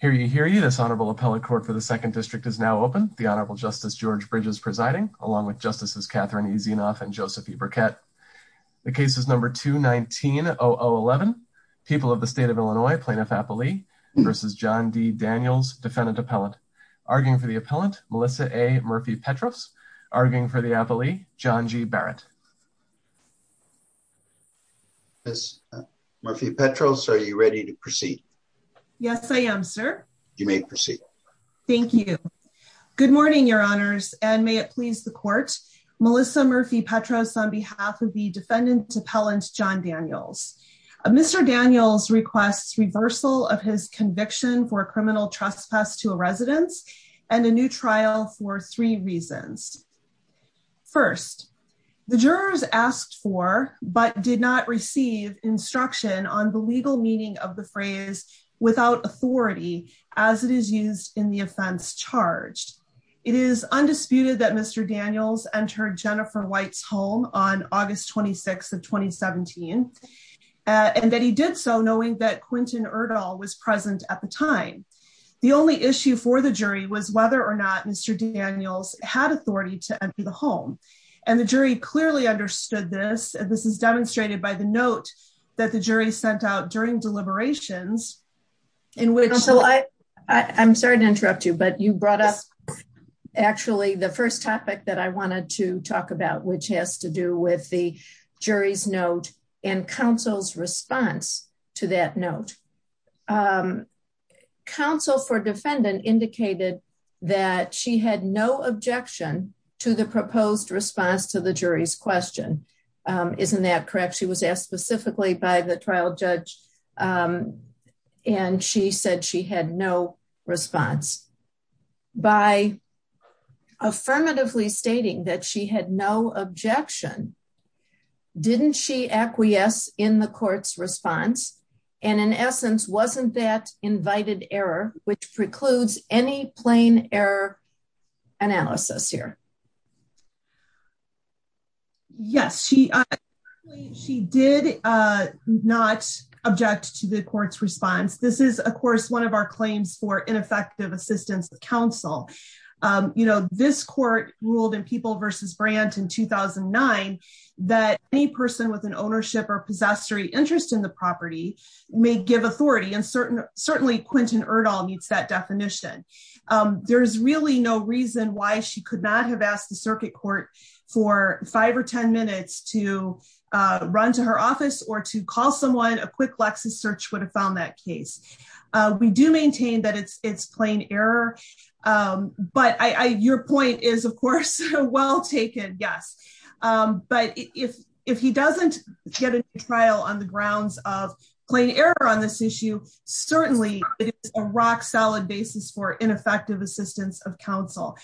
for the second district is now open. The Honorable Justice George Bridges presiding, along with Justices Catherine E. Zinoff and Joseph E. Burkett. The case is number 2-19-0011. People of the State of Illinois, Plaintiff Appellee v. John D. Daniels, Defendant Appellant. Arguing for the Appellant, Melissa A. Murphy-Petros. Arguing for the Appellee, John G. Barrett. Ms. Murphy-Petros, are you ready to proceed? Yes, I am, sir. You may proceed. Thank you. Good morning, Your Honors, and may it please the Court, Melissa Murphy-Petros on behalf of the Defendant Appellant, John Daniels. Mr. Daniels requests reversal of his conviction for criminal trespass to a residence, and a new trial for three reasons. First, the jurors asked for, but did not receive, instruction on the legal meaning of the phrase, without authority, as it is used in the offense charged. It is undisputed that Mr. Daniels entered Jennifer White's home on August 26th of 2017, and that he did so knowing that Quentin Erdahl was present at the time. The only issue for the jury was whether or not Mr. Daniels had authority to enter the home, and the jury clearly understood this, and this is demonstrated by the note that the jury sent out during deliberations. I'm sorry to interrupt you, but you brought up, actually, the first topic that I wanted to talk about, which has to do with counsel for defendant indicated that she had no objection to the proposed response to the jury's question. Isn't that correct? She was asked specifically by the trial judge, and she said she had no response. By affirmatively stating that she had no objection, didn't she acquiesce in the court's response, and in essence, wasn't that invited error, which precludes any plain error analysis here? Yes, she did not object to the court's response. This is, of course, one of our claims for ineffective assistance to counsel. This court ruled in People v. Brandt in 2009 that any person with an ownership or possessory interest in the property may give authority, and certainly, Quentin Erdahl meets that definition. There's really no reason why she could not have asked the circuit court for five or ten minutes to run to her office or to call someone. A quick Lexis search would have found that case. We do maintain that it's plain error, but your point is, of course, well taken, yes, but if he doesn't get a trial on the grounds of plain error on this issue, certainly, it is a rock-solid basis for ineffective assistance of counsel.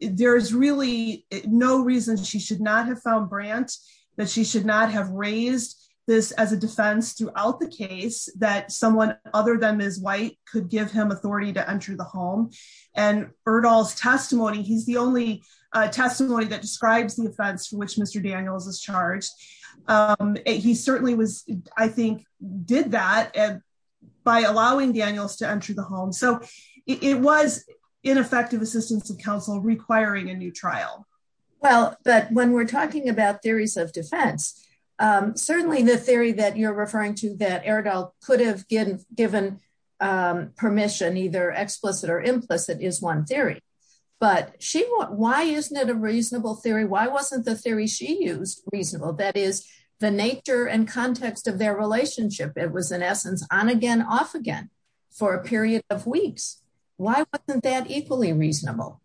There's really no reason she should not have found Brandt, that she should not have raised this as a defense throughout the case that someone other than Ms. White could give him authority to enter the home, and Erdahl's testimony, he's the only testimony that describes the offense for which Mr. Daniels is charged. He certainly was, I think, did that by allowing Daniels to enter the home, so it was ineffective assistance of counsel requiring a new trial. Well, but when we're talking about Erdahl could have given permission, either explicit or implicit, is one theory, but why isn't it a reasonable theory? Why wasn't the theory she used reasonable? That is, the nature and context of their relationship. It was, in essence, on again, off again for a period of weeks. Why wasn't that equally reasonable?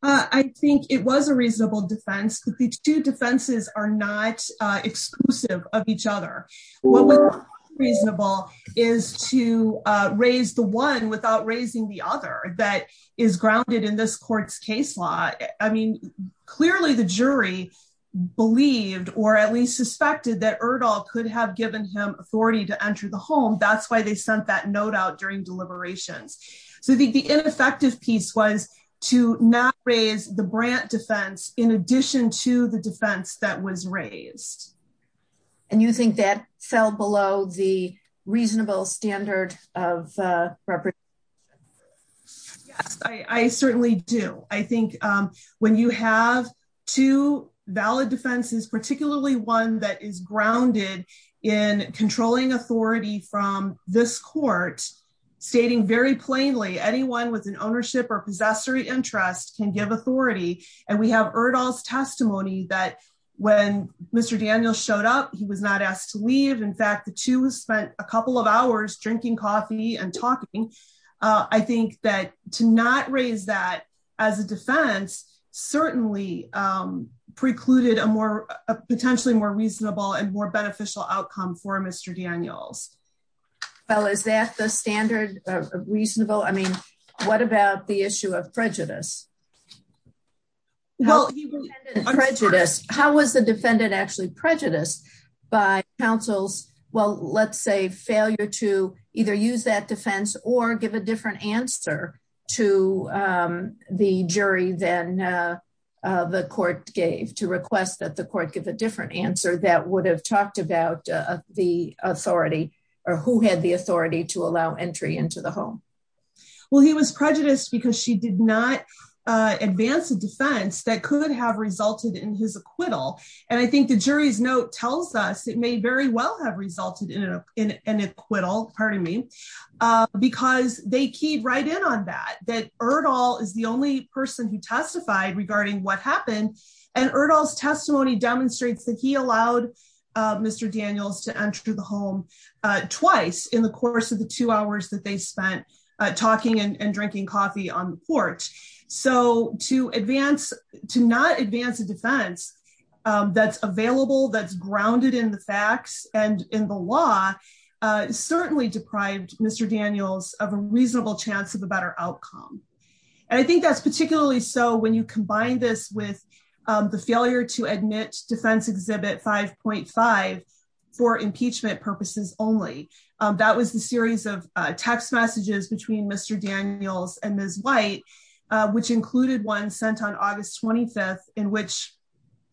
I think it was a reasonable defense that the two defenses are not exclusive of each other. What was reasonable is to raise the one without raising the other that is grounded in this court's case law. I mean, clearly, the jury believed or at least suspected that Erdahl could have given him authority to enter the home. That's why they sent that note out during deliberations, so I think the ineffective piece was to not raise the Brandt defense in addition to the defense that was raised. And you think that fell below the reasonable standard of representation? Yes, I certainly do. I think when you have two valid defenses, particularly one that is grounded in controlling authority from this court, stating very plainly, anyone with an ownership or possessory interest can give authority, and we have Erdahl's testimony that when Mr. Daniels showed up, he was not asked to leave. In fact, the two spent a couple of hours drinking coffee and talking. I think that to not raise that as a defense certainly precluded a potentially more reasonable and more beneficial outcome for Mr. Daniels. Well, is that the standard of reasonable? I mean, what about the issue of prejudice? How was the defendant actually prejudiced by counsel's, well, let's say, failure to either use that defense or give a different answer to the jury than the court gave, to request that the court give a different answer that would have talked about the authority or who had the authority to allow entry into the home? Well, he was prejudiced because she did not advance a defense that could have resulted in his acquittal. And I think the jury's note tells us it may very well have resulted in an acquittal, pardon me, because they keyed right in on that, that Erdahl is the only person who testified regarding what happened. And Erdahl's testimony demonstrates that he allowed Mr. Daniels to enter the home twice in the course of the two hours that they spent talking and drinking coffee on the court. So to not advance a defense that's available, that's grounded in the facts and in the law certainly deprived Mr. Daniels of a reasonable chance of a better outcome. And I think that's particularly so when you combine this with the failure to admit defense exhibit 5.5 for impeachment purposes only. That was the series of text messages between Mr. Daniels and Ms. White, which included one sent on August 25th, in which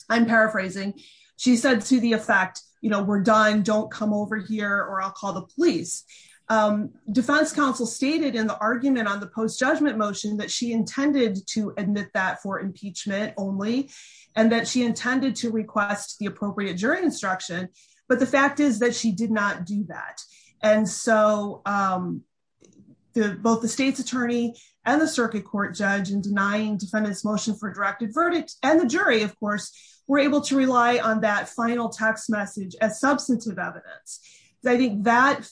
I'm paraphrasing, she said to the effect, you know, we're done, don't come over here or I'll argument on the post judgment motion that she intended to admit that for impeachment only, and that she intended to request the appropriate jury instruction. But the fact is that she did not do that. And so both the state's attorney and the circuit court judge in denying defendant's motion for directed verdict, and the jury, of course, were able to rely on that final text as substantive evidence. I think that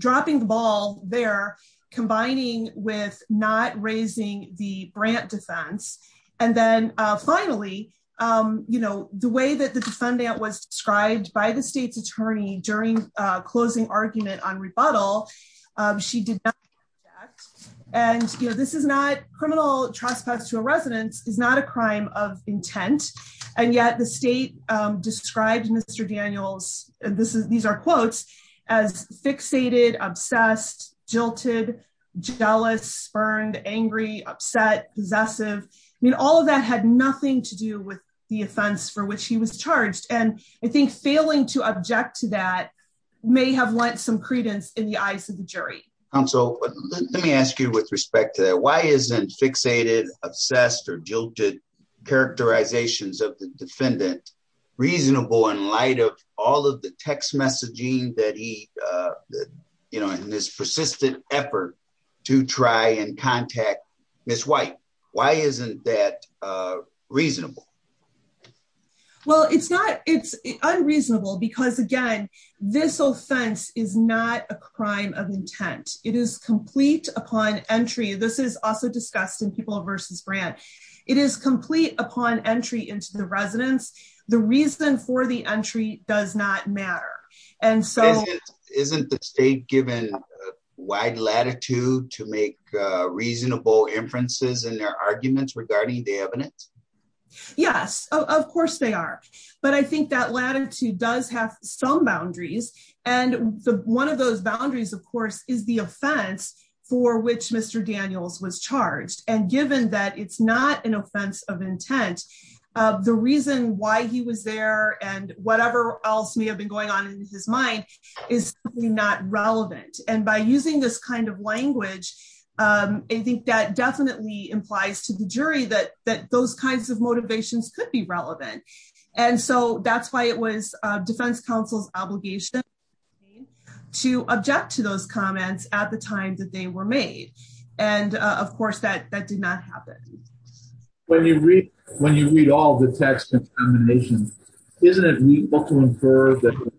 dropping the ball there, combining with not raising the grant defense. And then finally, you know, the way that the defendant was described by the state's attorney during closing argument on rebuttal, she did not do that. And you know, this is not this is these are quotes as fixated, obsessed, jilted, jealous, spurned, angry, upset, possessive. I mean, all of that had nothing to do with the offense for which he was charged. And I think failing to object to that may have lent some credence in the eyes of the jury. And so let me ask you with respect to that, why isn't fixated, obsessed or jilted characterizations of the defendant reasonable in light of all of the text messaging that he you know, in this persistent effort to try and contact Ms. White? Why isn't that reasonable? Well, it's not it's unreasonable, because again, this offense is not a crime of intent, it is complete upon entry. This is also discussed in people versus brand, it is complete upon entry into the residence. The reason for the entry does not matter. And so isn't the state given wide latitude to make reasonable inferences in their arguments regarding the evidence? Yes, of course they are. But I think that latitude does have some boundaries. And one of those boundaries, of course, is the offense for which Mr. Daniels was charged. And given that it's not an offense of intent, the reason why he was there and whatever else may have been going on in his mind is not relevant. And by using this kind of language, I think that definitely implies to the jury that that those kinds of motivations could be relevant. And so that's why it was defense counsel's obligation to object to those comments at the time that they were made. And of course, that that did not happen. When you read, when you read all the text contamination, isn't it reasonable to infer that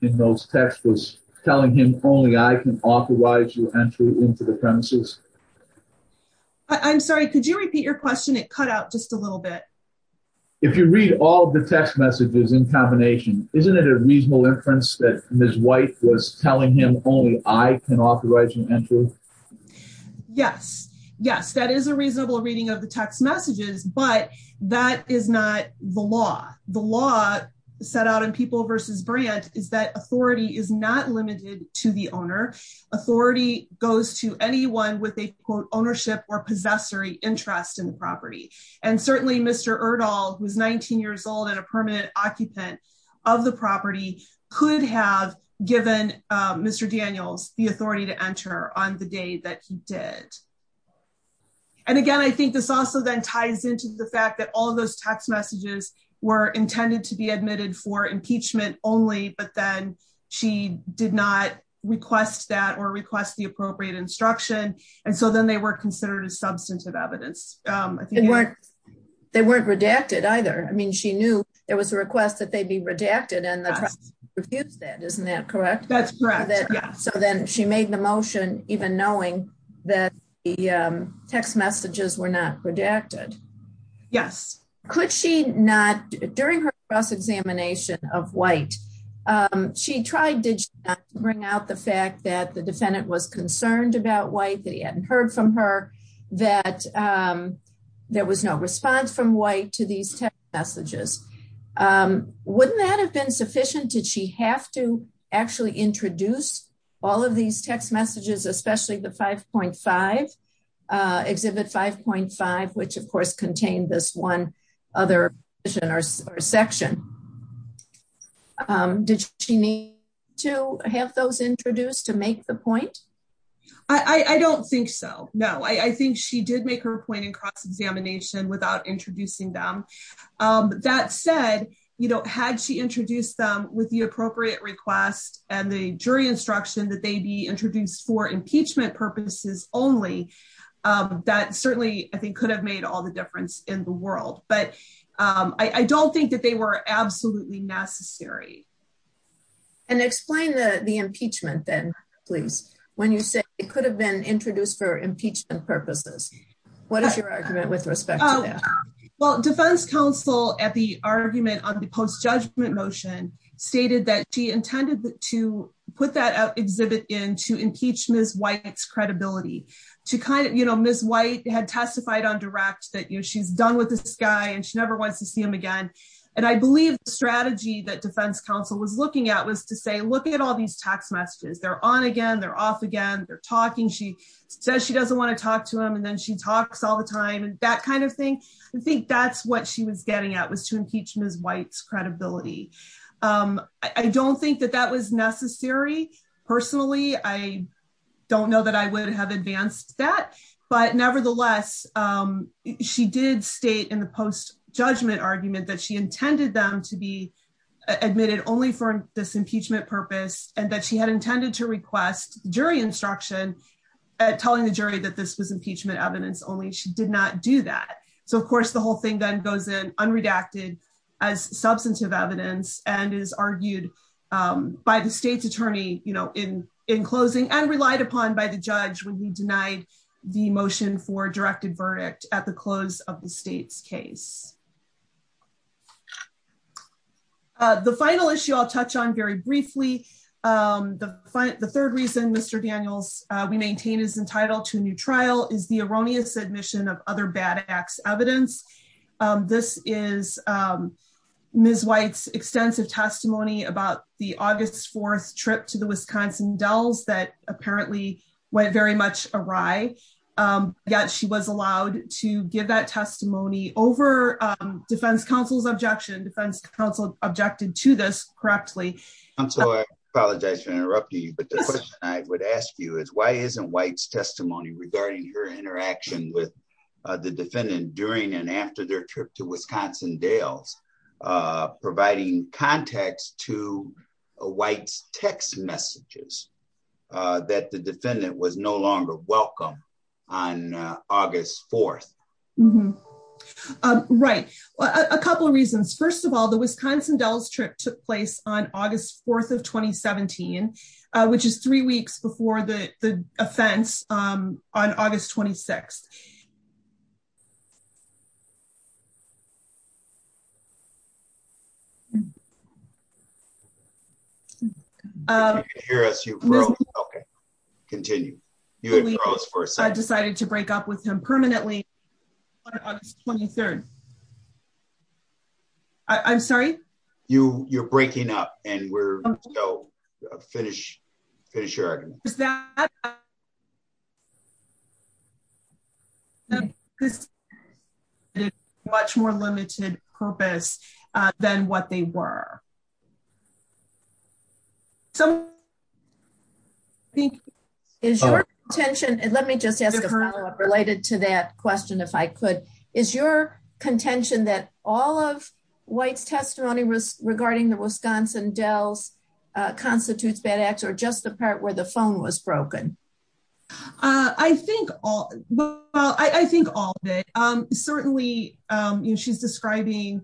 in those text was telling him only I can authorize you entry into the premises? I'm sorry, could you repeat your question? It cut out just a little bit. If you read all the text messages in combination, isn't it a reasonable inference that Ms. White was telling him only I can authorize you entry? Yes, yes, that is a reasonable reading of the text messages. But that is not the law. The law set out in People v. Brandt is that authority is not limited to the owner. Authority goes to anyone with a quote, ownership or who's 19 years old and a permanent occupant of the property could have given Mr. Daniels the authority to enter on the day that he did. And again, I think this also then ties into the fact that all those text messages were intended to be admitted for impeachment only, but then she did not request that or request the appropriate instruction. And so then they were considered a substantive evidence. They weren't redacted either. I mean, she knew there was a request that they'd be redacted and refused that. Isn't that correct? That's correct. So then she made the motion even knowing that the text messages were not redacted. Yes. Could she not during her cross examination of White? She tried to bring out the fact that the defendant was that there was no response from White to these messages. Wouldn't that have been sufficient? Did she have to actually introduce all of these text messages, especially the 5.5, Exhibit 5.5, which of course contained this one other section. Did she need to have those introduced to make the point? I don't think so. No, I think she did make her point in cross examination without introducing them. That said, you know, had she introduced them with the appropriate request and the jury instruction that they be introduced for impeachment purposes only, that certainly I think could have made all the difference in the world. But I don't think that they were absolutely necessary. And explain the impeachment then, please. When you say it could have been introduced for impeachment purposes, what is your argument with respect to that? Well, defense counsel at the argument on the post judgment motion stated that she intended to put that exhibit in to impeach Ms. White's credibility. To kind of, you know, Ms. White had testified on direct that, you know, she's done with this guy and she never wants to see him again. And I believe the strategy that defense counsel was looking at was to say, look at all these text messages. They're on again, they're off again, they're talking. She says she doesn't want to talk to him and then she talks all the time and that kind of thing. I think that's what she was getting at was to impeach Ms. White's credibility. I don't think that that was necessary. Personally, I don't know that I would have advanced that. But nevertheless, she did state in the post judgment argument that she intended them to be admitted only for this impeachment purpose and that she had intended to request jury instruction at telling the jury that this was impeachment evidence only. She did not do that. So of course, whole thing then goes in unredacted as substantive evidence and is argued by the state's attorney, you know, in closing and relied upon by the judge when he denied the motion for directed verdict at the close of the state's case. The final issue I'll touch on very briefly. The third reason Mr. Daniels we maintain is trial is the erroneous admission of other bad acts evidence. This is Ms. White's extensive testimony about the August 4 trip to the Wisconsin Dells that apparently went very much awry. Yet she was allowed to give that testimony over defense counsel's objection, defense counsel objected to this correctly. I'm sorry, I apologize for interrupting you. I would ask you is why isn't White's testimony regarding her interaction with the defendant during and after their trip to Wisconsin Dells, providing context to White's text messages that the defendant was no longer welcome on August 4. Right. A couple of reasons. First of all, the Wisconsin Dells trip took place on August 4 of 2017, which is three weeks before the offense on August 26. You can't hear us, you broke, okay, continue. I decided to break up with him permanently on August 23rd. I'm sorry? You're breaking up and we're finished. Much more limited purpose than what they were. Let me just ask a follow up related to that question if I could. Is your contention that all of White's testimony regarding the Wisconsin Dells constitutes bad acts or just the part where the phone was broken? I think all, well, I think all of it. Certainly, she's describing,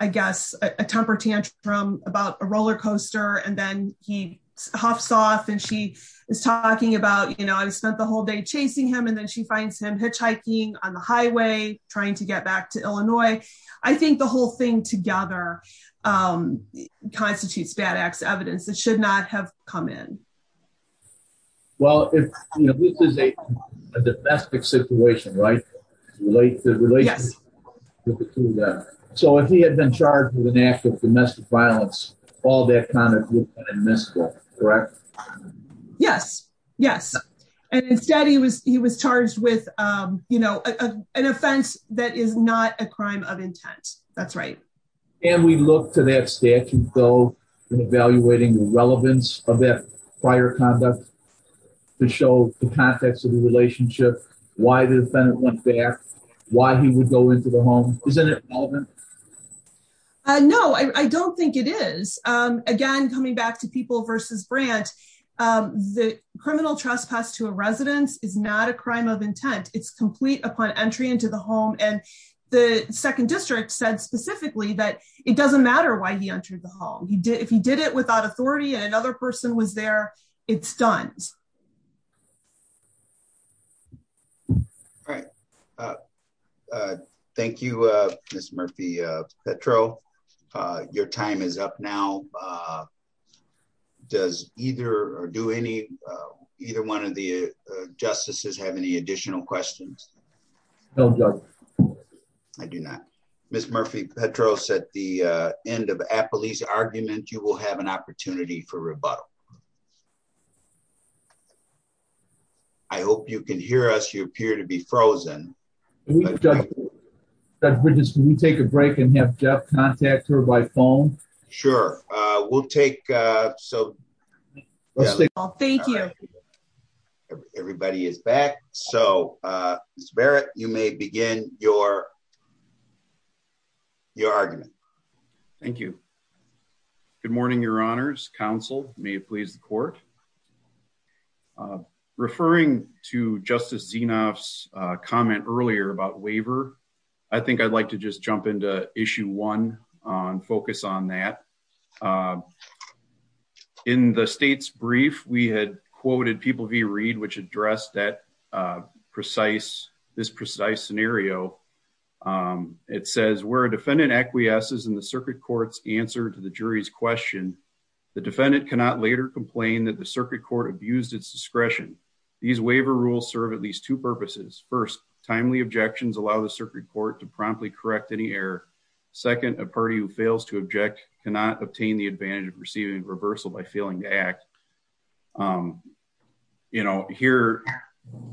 I guess, a temper tantrum about a roller coaster and then he huffs off and she is talking about, you know, I spent the whole day chasing him and then she finds him hitchhiking on the highway trying to get back to Illinois. I think the whole thing together constitutes bad acts, evidence that should not have come in. Well, this is a domestic situation, right? So if he had been charged with an act of domestic violence, all that kind of misconduct, correct? Yes, yes. And instead, he was charged with, you know, an offense that is not a crime of intent. That's right. And we look to that statute though in evaluating the relevance of that prior conduct to show the context of the relationship, why the defendant went back, why he would go into the home. The criminal trespass to a residence is not a crime of intent. It's complete upon entry into the home. And the second district said specifically that it doesn't matter why he entered the home. If he did it without authority and another person was there, it's done. All right. Thank you, Ms. Murphy-Petro. Your time is up now. Does either or do any, either one of the justices have any additional questions? I do not. Ms. Murphy-Petro said the end of Appley's argument, you will have an opportunity for rebuttal. I hope you can hear us. You appear to be frozen. Judge Bridges, can we take a break and have Jeff contact her by phone? Sure. We'll take, so... Thank you. Everybody is back. So, Ms. Barrett, you may begin your argument. Thank you. Good morning, Your Honors. Counsel, may it please the court. Referring to Justice Zinoff's comment earlier about waiver, I think I'd like to just jump into issue one and focus on that. In the state's brief, we had quoted People v. Reed, which addressed that precise, this precise scenario. It says, where a defendant acquiesces in the circuit court's answer to the jury's question, the defendant cannot later complain that the circuit court abused its discretion. These waiver rules serve at least two purposes. First, timely objections allow the circuit court to promptly correct any error. Second, a party who fails to object cannot obtain the advantage of receiving reversal by failing to act. Here,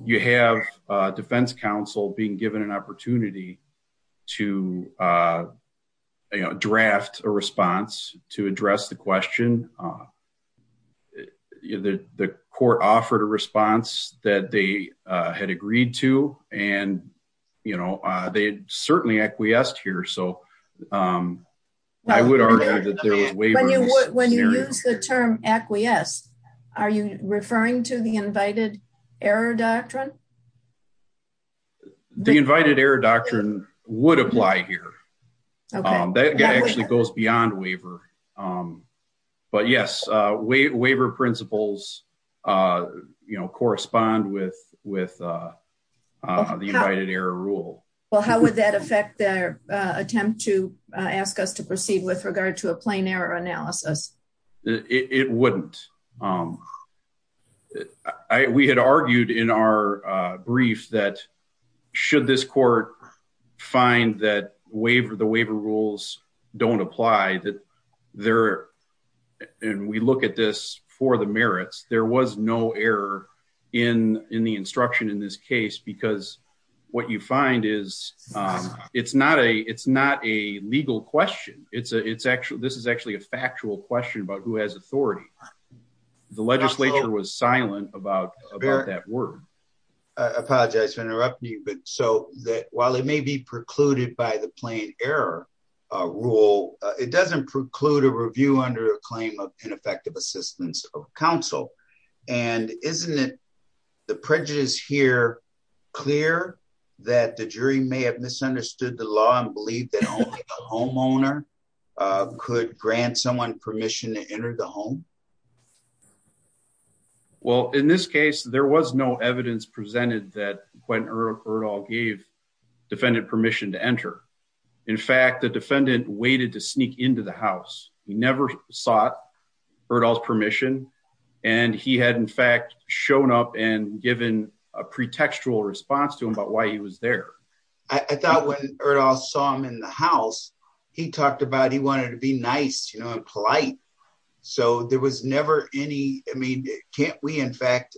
you have defense counsel being given an opportunity to draft a response to address the question. The court offered a response that they had agreed to, and, you know, they certainly acquiesced here. So, I would argue that there was waivers. When you use the term acquiesce, are you referring to the invited error doctrine? The invited error doctrine would apply here. That actually goes beyond waiver. But yes, waiver principles, you know, correspond with the invited error rule. Well, how would that affect their attempt to ask us to proceed with regard to a plain error analysis? It wouldn't. We had argued in our brief that should this court find that the waiver rules don't apply, and we look at this for the merits, there was no error in the instruction in this case because what you find is it's not a legal question. This is actually a factual question about who has authority. The legislature was silent about that word. I apologize for interrupting you, so while it may be precluded by the plain error rule, it doesn't preclude a review under a claim of ineffective assistance of counsel. And isn't it the prejudice here clear that the jury may have misunderstood the law and believed that only the homeowner could grant someone permission to enter? In fact, the defendant waited to sneak into the house. He never sought Erdahl's permission, and he had, in fact, shown up and given a pretextual response to him about why he was there. I thought when Erdahl saw him in the house, he talked about he wanted to be nice, you know, and polite. So there was never any, I mean, can't we, in fact,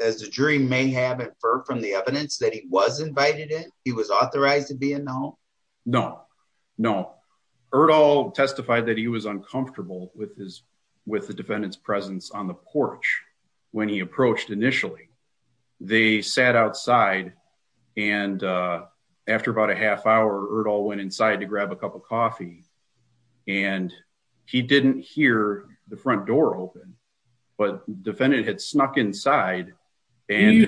as the jury may have inferred from the evidence that he was invited in, he was authorized to be in the home? No, no. Erdahl testified that he was uncomfortable with the defendant's presence on the porch when he approached initially. They sat outside, and after about a half hour, Erdahl went inside to grab a cup of coffee, and he didn't hear the front door open, but the defendant had snuck inside. He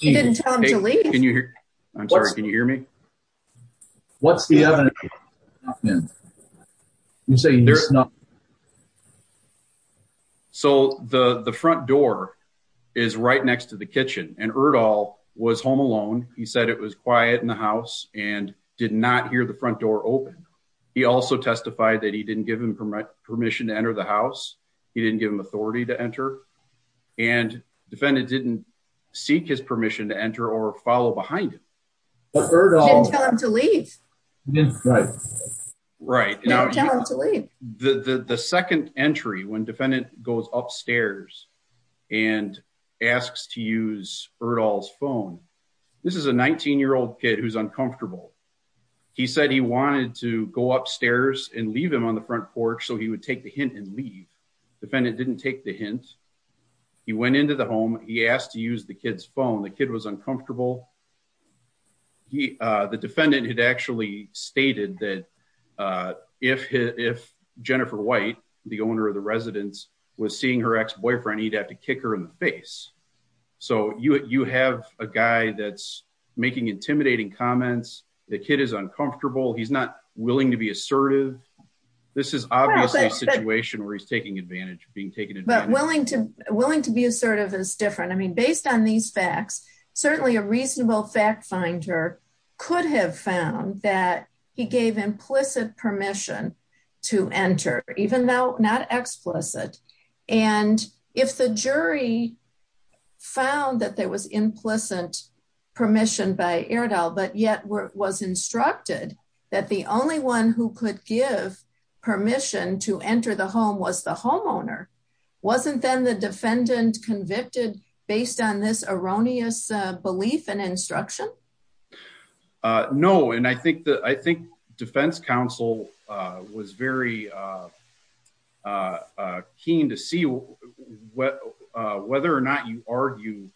didn't tell him to leave? I'm sorry, can you hear me? What's the evidence? So the front door is right next to the kitchen, and Erdahl was home alone. He said it was quiet in the house and did not hear the front door open. He also testified that he didn't give him permission to enter the house. He didn't give him authority to enter, and the defendant didn't seek his permission to enter or follow behind him. He didn't tell him to leave? Right. He didn't tell him to leave. The second entry, when the defendant goes upstairs and asks to use Erdahl's phone, this is a 19-year-old kid who's uncomfortable. He said he wanted to go upstairs and leave him on the front porch so he would take the hint and leave. The defendant didn't take the hint. He went into the home. He asked to use the kid's phone. The kid was uncomfortable. The defendant had actually stated that if Jennifer White, the owner of the residence, was seeing her ex-boyfriend, he'd have to kick her in the face. So you have a guy that's making intimidating comments. The kid is uncomfortable. He's not willing to be assertive. This is obviously a situation where he's taking advantage. Willing to be assertive is different. I mean, based on these facts, certainly a reasonable fact finder could have found that he gave implicit permission to enter, even though not explicit. And if the jury found that there was implicit permission by Erdahl but yet was instructed that the only one who could give permission to enter the home was the homeowner, wasn't then the defendant convicted based on this erroneous belief and instruction? No. And I think defense counsel was very keen to see whether or not you argue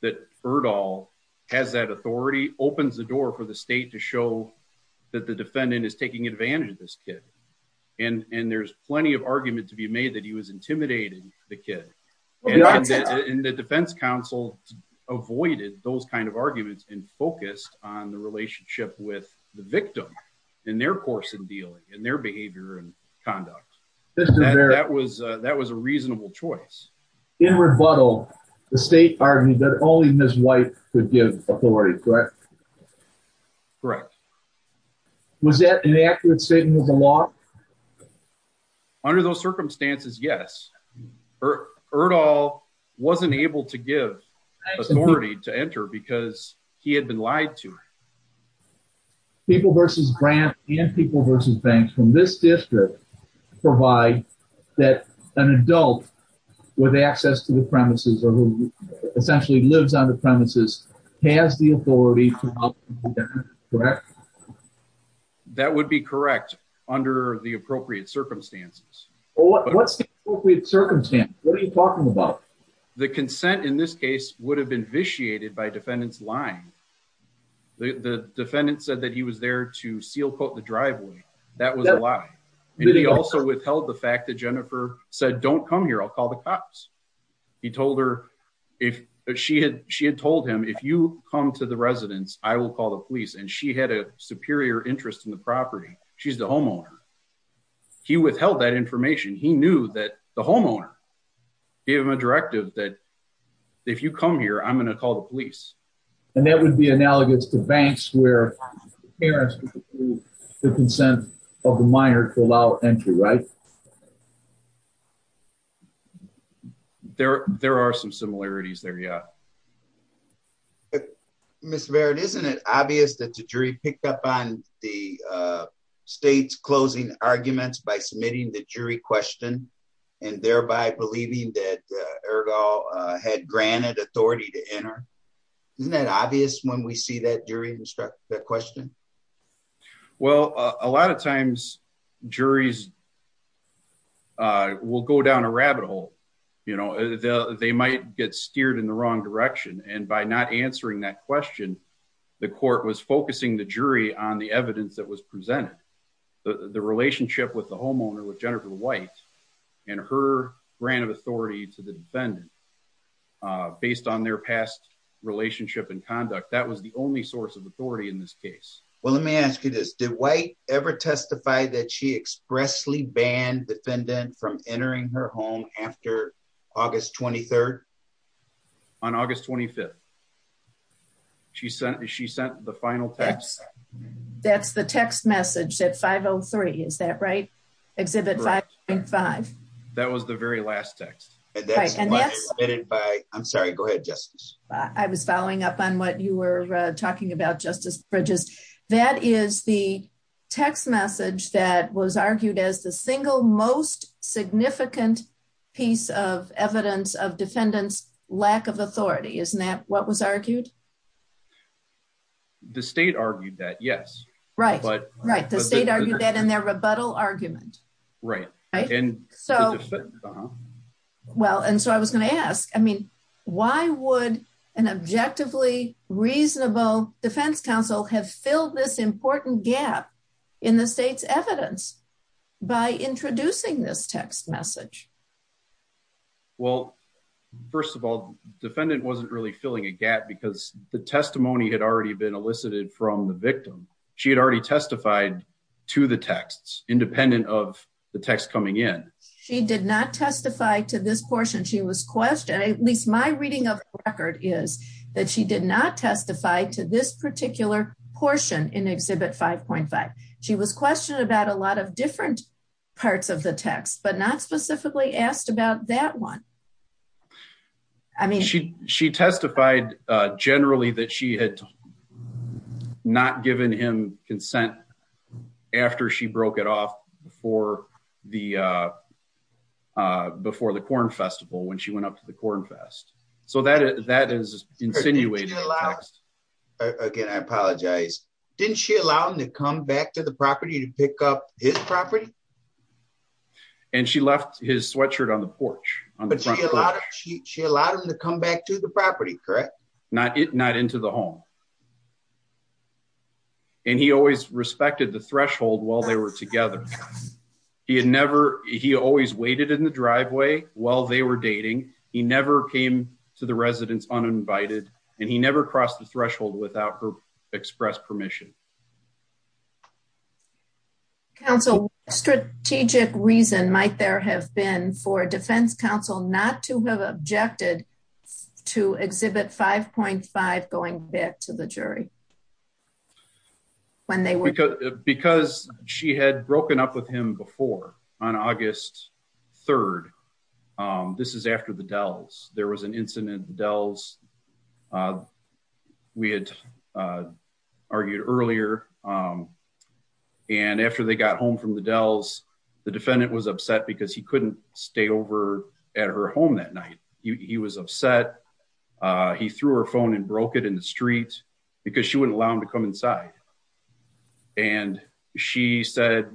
that Erdahl has that authority, opens the door for the state to show that the defendant is taking advantage of this kid. And there's plenty of argument to make that he was intimidating the kid. And the defense counsel avoided those kinds of arguments and focused on the relationship with the victim and their course in dealing and their behavior and conduct. That was a reasonable choice. In rebuttal, the state argued that only Ms. White would give authority, correct? Correct. Was that an accurate statement of the law? No. Under those circumstances, yes. Erdahl wasn't able to give authority to enter because he had been lied to. People versus grant and people versus banks from this district provide that an adult with access to the premises or who essentially lives on the premises has the authority to open the door, correct? That would be correct under the appropriate circumstances. What's the appropriate circumstance? What are you talking about? The consent in this case would have been vitiated by defendant's lying. The defendant said that he was there to seal coat the driveway. That was a lie. And he also withheld the fact that Jennifer said, don't come here, I'll call the cops. He told her, if she had told him, if you come to the residence, I will call the police. And she had a superior interest in the property. She's the homeowner. He withheld that information. He knew that the homeowner gave him a directive that if you come here, I'm going to call the police. And that would be analogous to banks where parents would approve the consent of the Yeah. Mr. Barrett, isn't it obvious that the jury picked up on the state's closing arguments by submitting the jury question and thereby believing that Ergo had granted authority to enter? Isn't that obvious when we see that during the question? Well, a lot of times, juries will go down a rabbit hole, you know, they might get steered in the wrong direction. And by not answering that question, the court was focusing the jury on the evidence that was presented. The relationship with the homeowner with Jennifer White, and her grant of authority to the defendant, based on their past relationship and conduct, that was only source of authority in this case. Well, let me ask you this, did White ever testify that she expressly banned defendant from entering her home after August 23? On August 25. She sent she sent the final text. That's the text message at 503. Is that right? Exhibit 5.5. That was the very last text. I'm sorry, go ahead, Justice. I was following up on what you were talking about, Justice Bridges. That is the text message that was argued as the single most significant piece of evidence of defendants' lack of authority. Isn't that what was argued? The state argued that, yes. Right, right. The state argued that in their an objectively reasonable defense counsel have filled this important gap in the state's evidence by introducing this text message. Well, first of all, the defendant wasn't really filling a gap because the testimony had already been elicited from the victim. She had already testified to the texts independent of the text coming in. She did not testify to this that she did not testify to this particular portion in Exhibit 5.5. She was questioned about a lot of different parts of the text, but not specifically asked about that one. I mean, she testified generally that she had not given him consent after she broke it off the before the Corn Festival when she went up to the Corn Fest. So that is insinuating. Again, I apologize. Didn't she allow him to come back to the property to pick up his property? And she left his sweatshirt on the porch. But she allowed him to come back to the property, correct? Not into the home. And he always respected the threshold while they were together. He had never, he always waited in the driveway while they were dating. He never came to the residence uninvited, and he never crossed the threshold without her express permission. Counsel, what strategic reason might there have been for a defense counsel not to have objected to Exhibit 5.5 going back to the jury? Because she had broken up with him before on August 3rd. This is after the Dells. There was an incident at the Dells. We had argued earlier. And after they got home from the Dells, the defendant was upset because he couldn't stay over at her home that night. He was upset. He threw her phone and broke it in the street because she wouldn't allow him to come inside. And she said,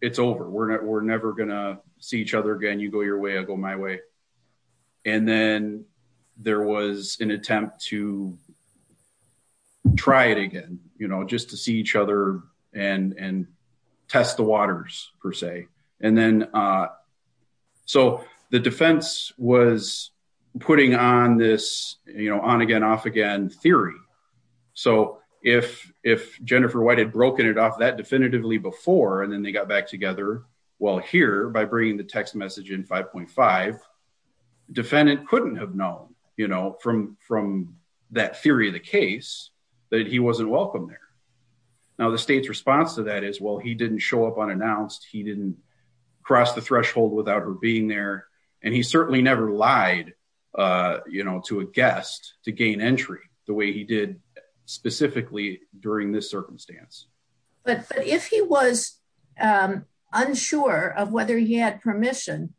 it's over. We're never going to see each other again. You go your way. I'll go my way. And then there was an attempt to try it again, just to see each other and test the waters, per se. So the defense was putting on this on-again, off-again theory. So if Jennifer White had broken it off that definitively before, and then they got back together while here by bringing the he wasn't welcome there. Now the state's response to that is, well, he didn't show up unannounced. He didn't cross the threshold without her being there. And he certainly never lied to a guest to gain entry the way he did specifically during this circumstance. But if he was unsure of whether he had permission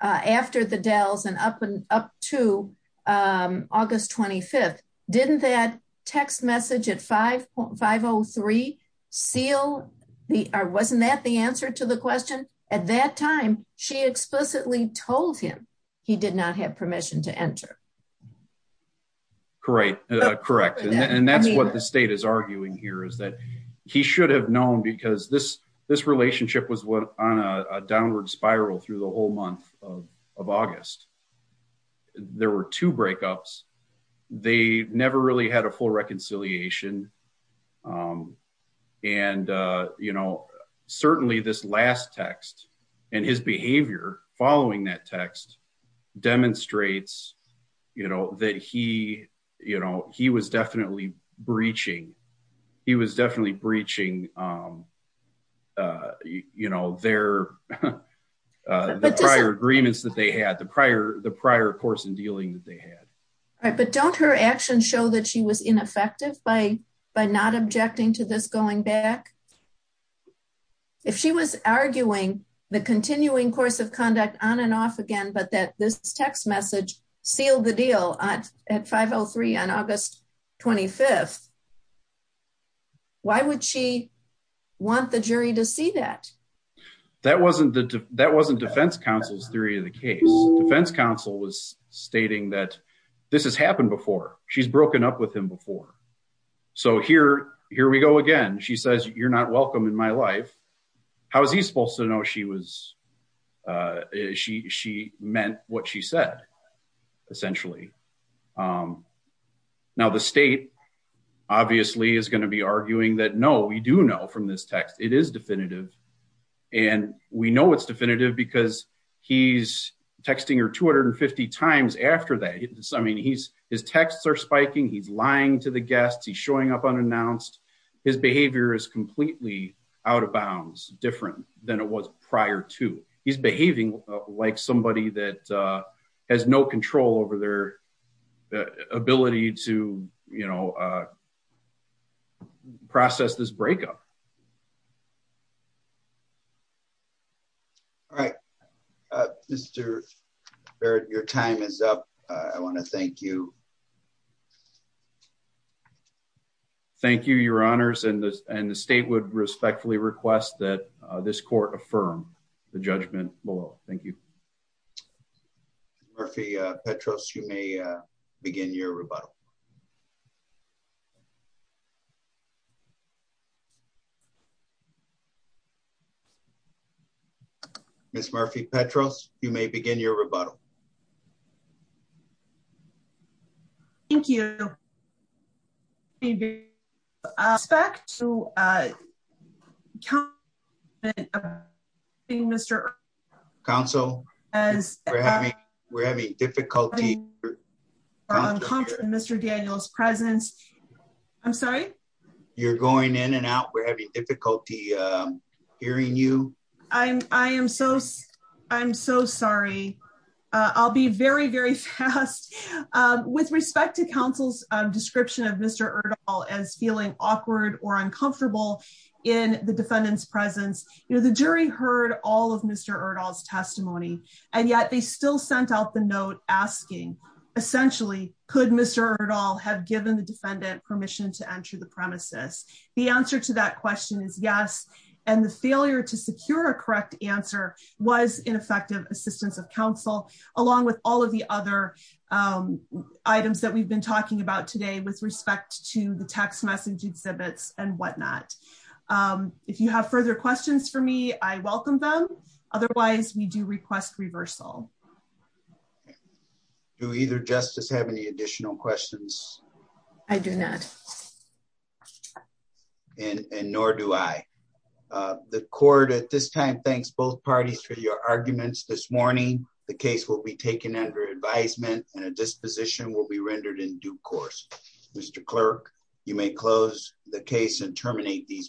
after the Dells and up to August 25th, didn't that text message at 5.503 seal the, or wasn't that the answer to the question at that time, she explicitly told him he did not have permission to enter. Correct. Correct. And that's what the state is arguing here is that he should have known because this, this relationship was on a downward spiral through the whole month of August. There were two breakups. They never really had a full reconciliation. And, you know, certainly this last text and his behavior following that text demonstrates, you know, that he, you know, he was definitely breaching. He was definitely the prior course in dealing that they had. All right. But don't her action show that she was ineffective by, by not objecting to this going back. If she was arguing the continuing course of conduct on and off again, but that this text message sealed the deal at 5.03 on August 25th, why would she want the jury to see that? That wasn't the, that wasn't defense counsel's theory of the case. Defense counsel was stating that this has happened before she's broken up with him before. So here, here we go again. She says, you're not welcome in my life. How is he supposed to know? She was she, she meant what she said essentially. Now the state obviously is going to be arguing that, no, we do know from this text, it is definitive because he's texting her 250 times after that. I mean, he's, his texts are spiking. He's lying to the guests. He's showing up unannounced. His behavior is completely out of bounds different than it was prior to he's behaving like somebody that has no control over their ability to, you know, process this breakup. All right. Mr. Barrett, your time is up. I want to thank you. Thank you, your honors. And the, and the state would respectfully request that this court affirm the judgment below. Thank you. Murphy Petros, you may begin your rebuttal. Ms. Murphy Petros, you may begin your rebuttal. Thank you. Respect to Mr. Council as we're having difficulty. Mr. Daniels presence. I'm sorry. You're going in and out. We're having difficulty hearing you. I'm, I am so, I'm so sorry. I'll be very, very fast with respect to counsel's description of Mr. Erdahl as feeling awkward or uncomfortable in the defendant's presence. You know, the jury heard all of Mr. Erdahl's testimony, and yet they still sent out the note asking essentially, could Mr. Erdahl have given the defendant permission to enter the premises? The answer to that question is yes. And the failure to secure a correct answer was ineffective assistance of counsel, along with all of the other items that we've been talking about today with respect to the text message exhibits and whatnot. If you have further questions for me, I welcome them. Otherwise we do request reversal. Do either justice have any additional questions? I do not. And nor do I. The court at this time, thanks both parties for your arguments this morning. The case will be taken under advisement and a disposition will be rendered in due course. Mr. Clerk, you may close the case and terminate these proceedings.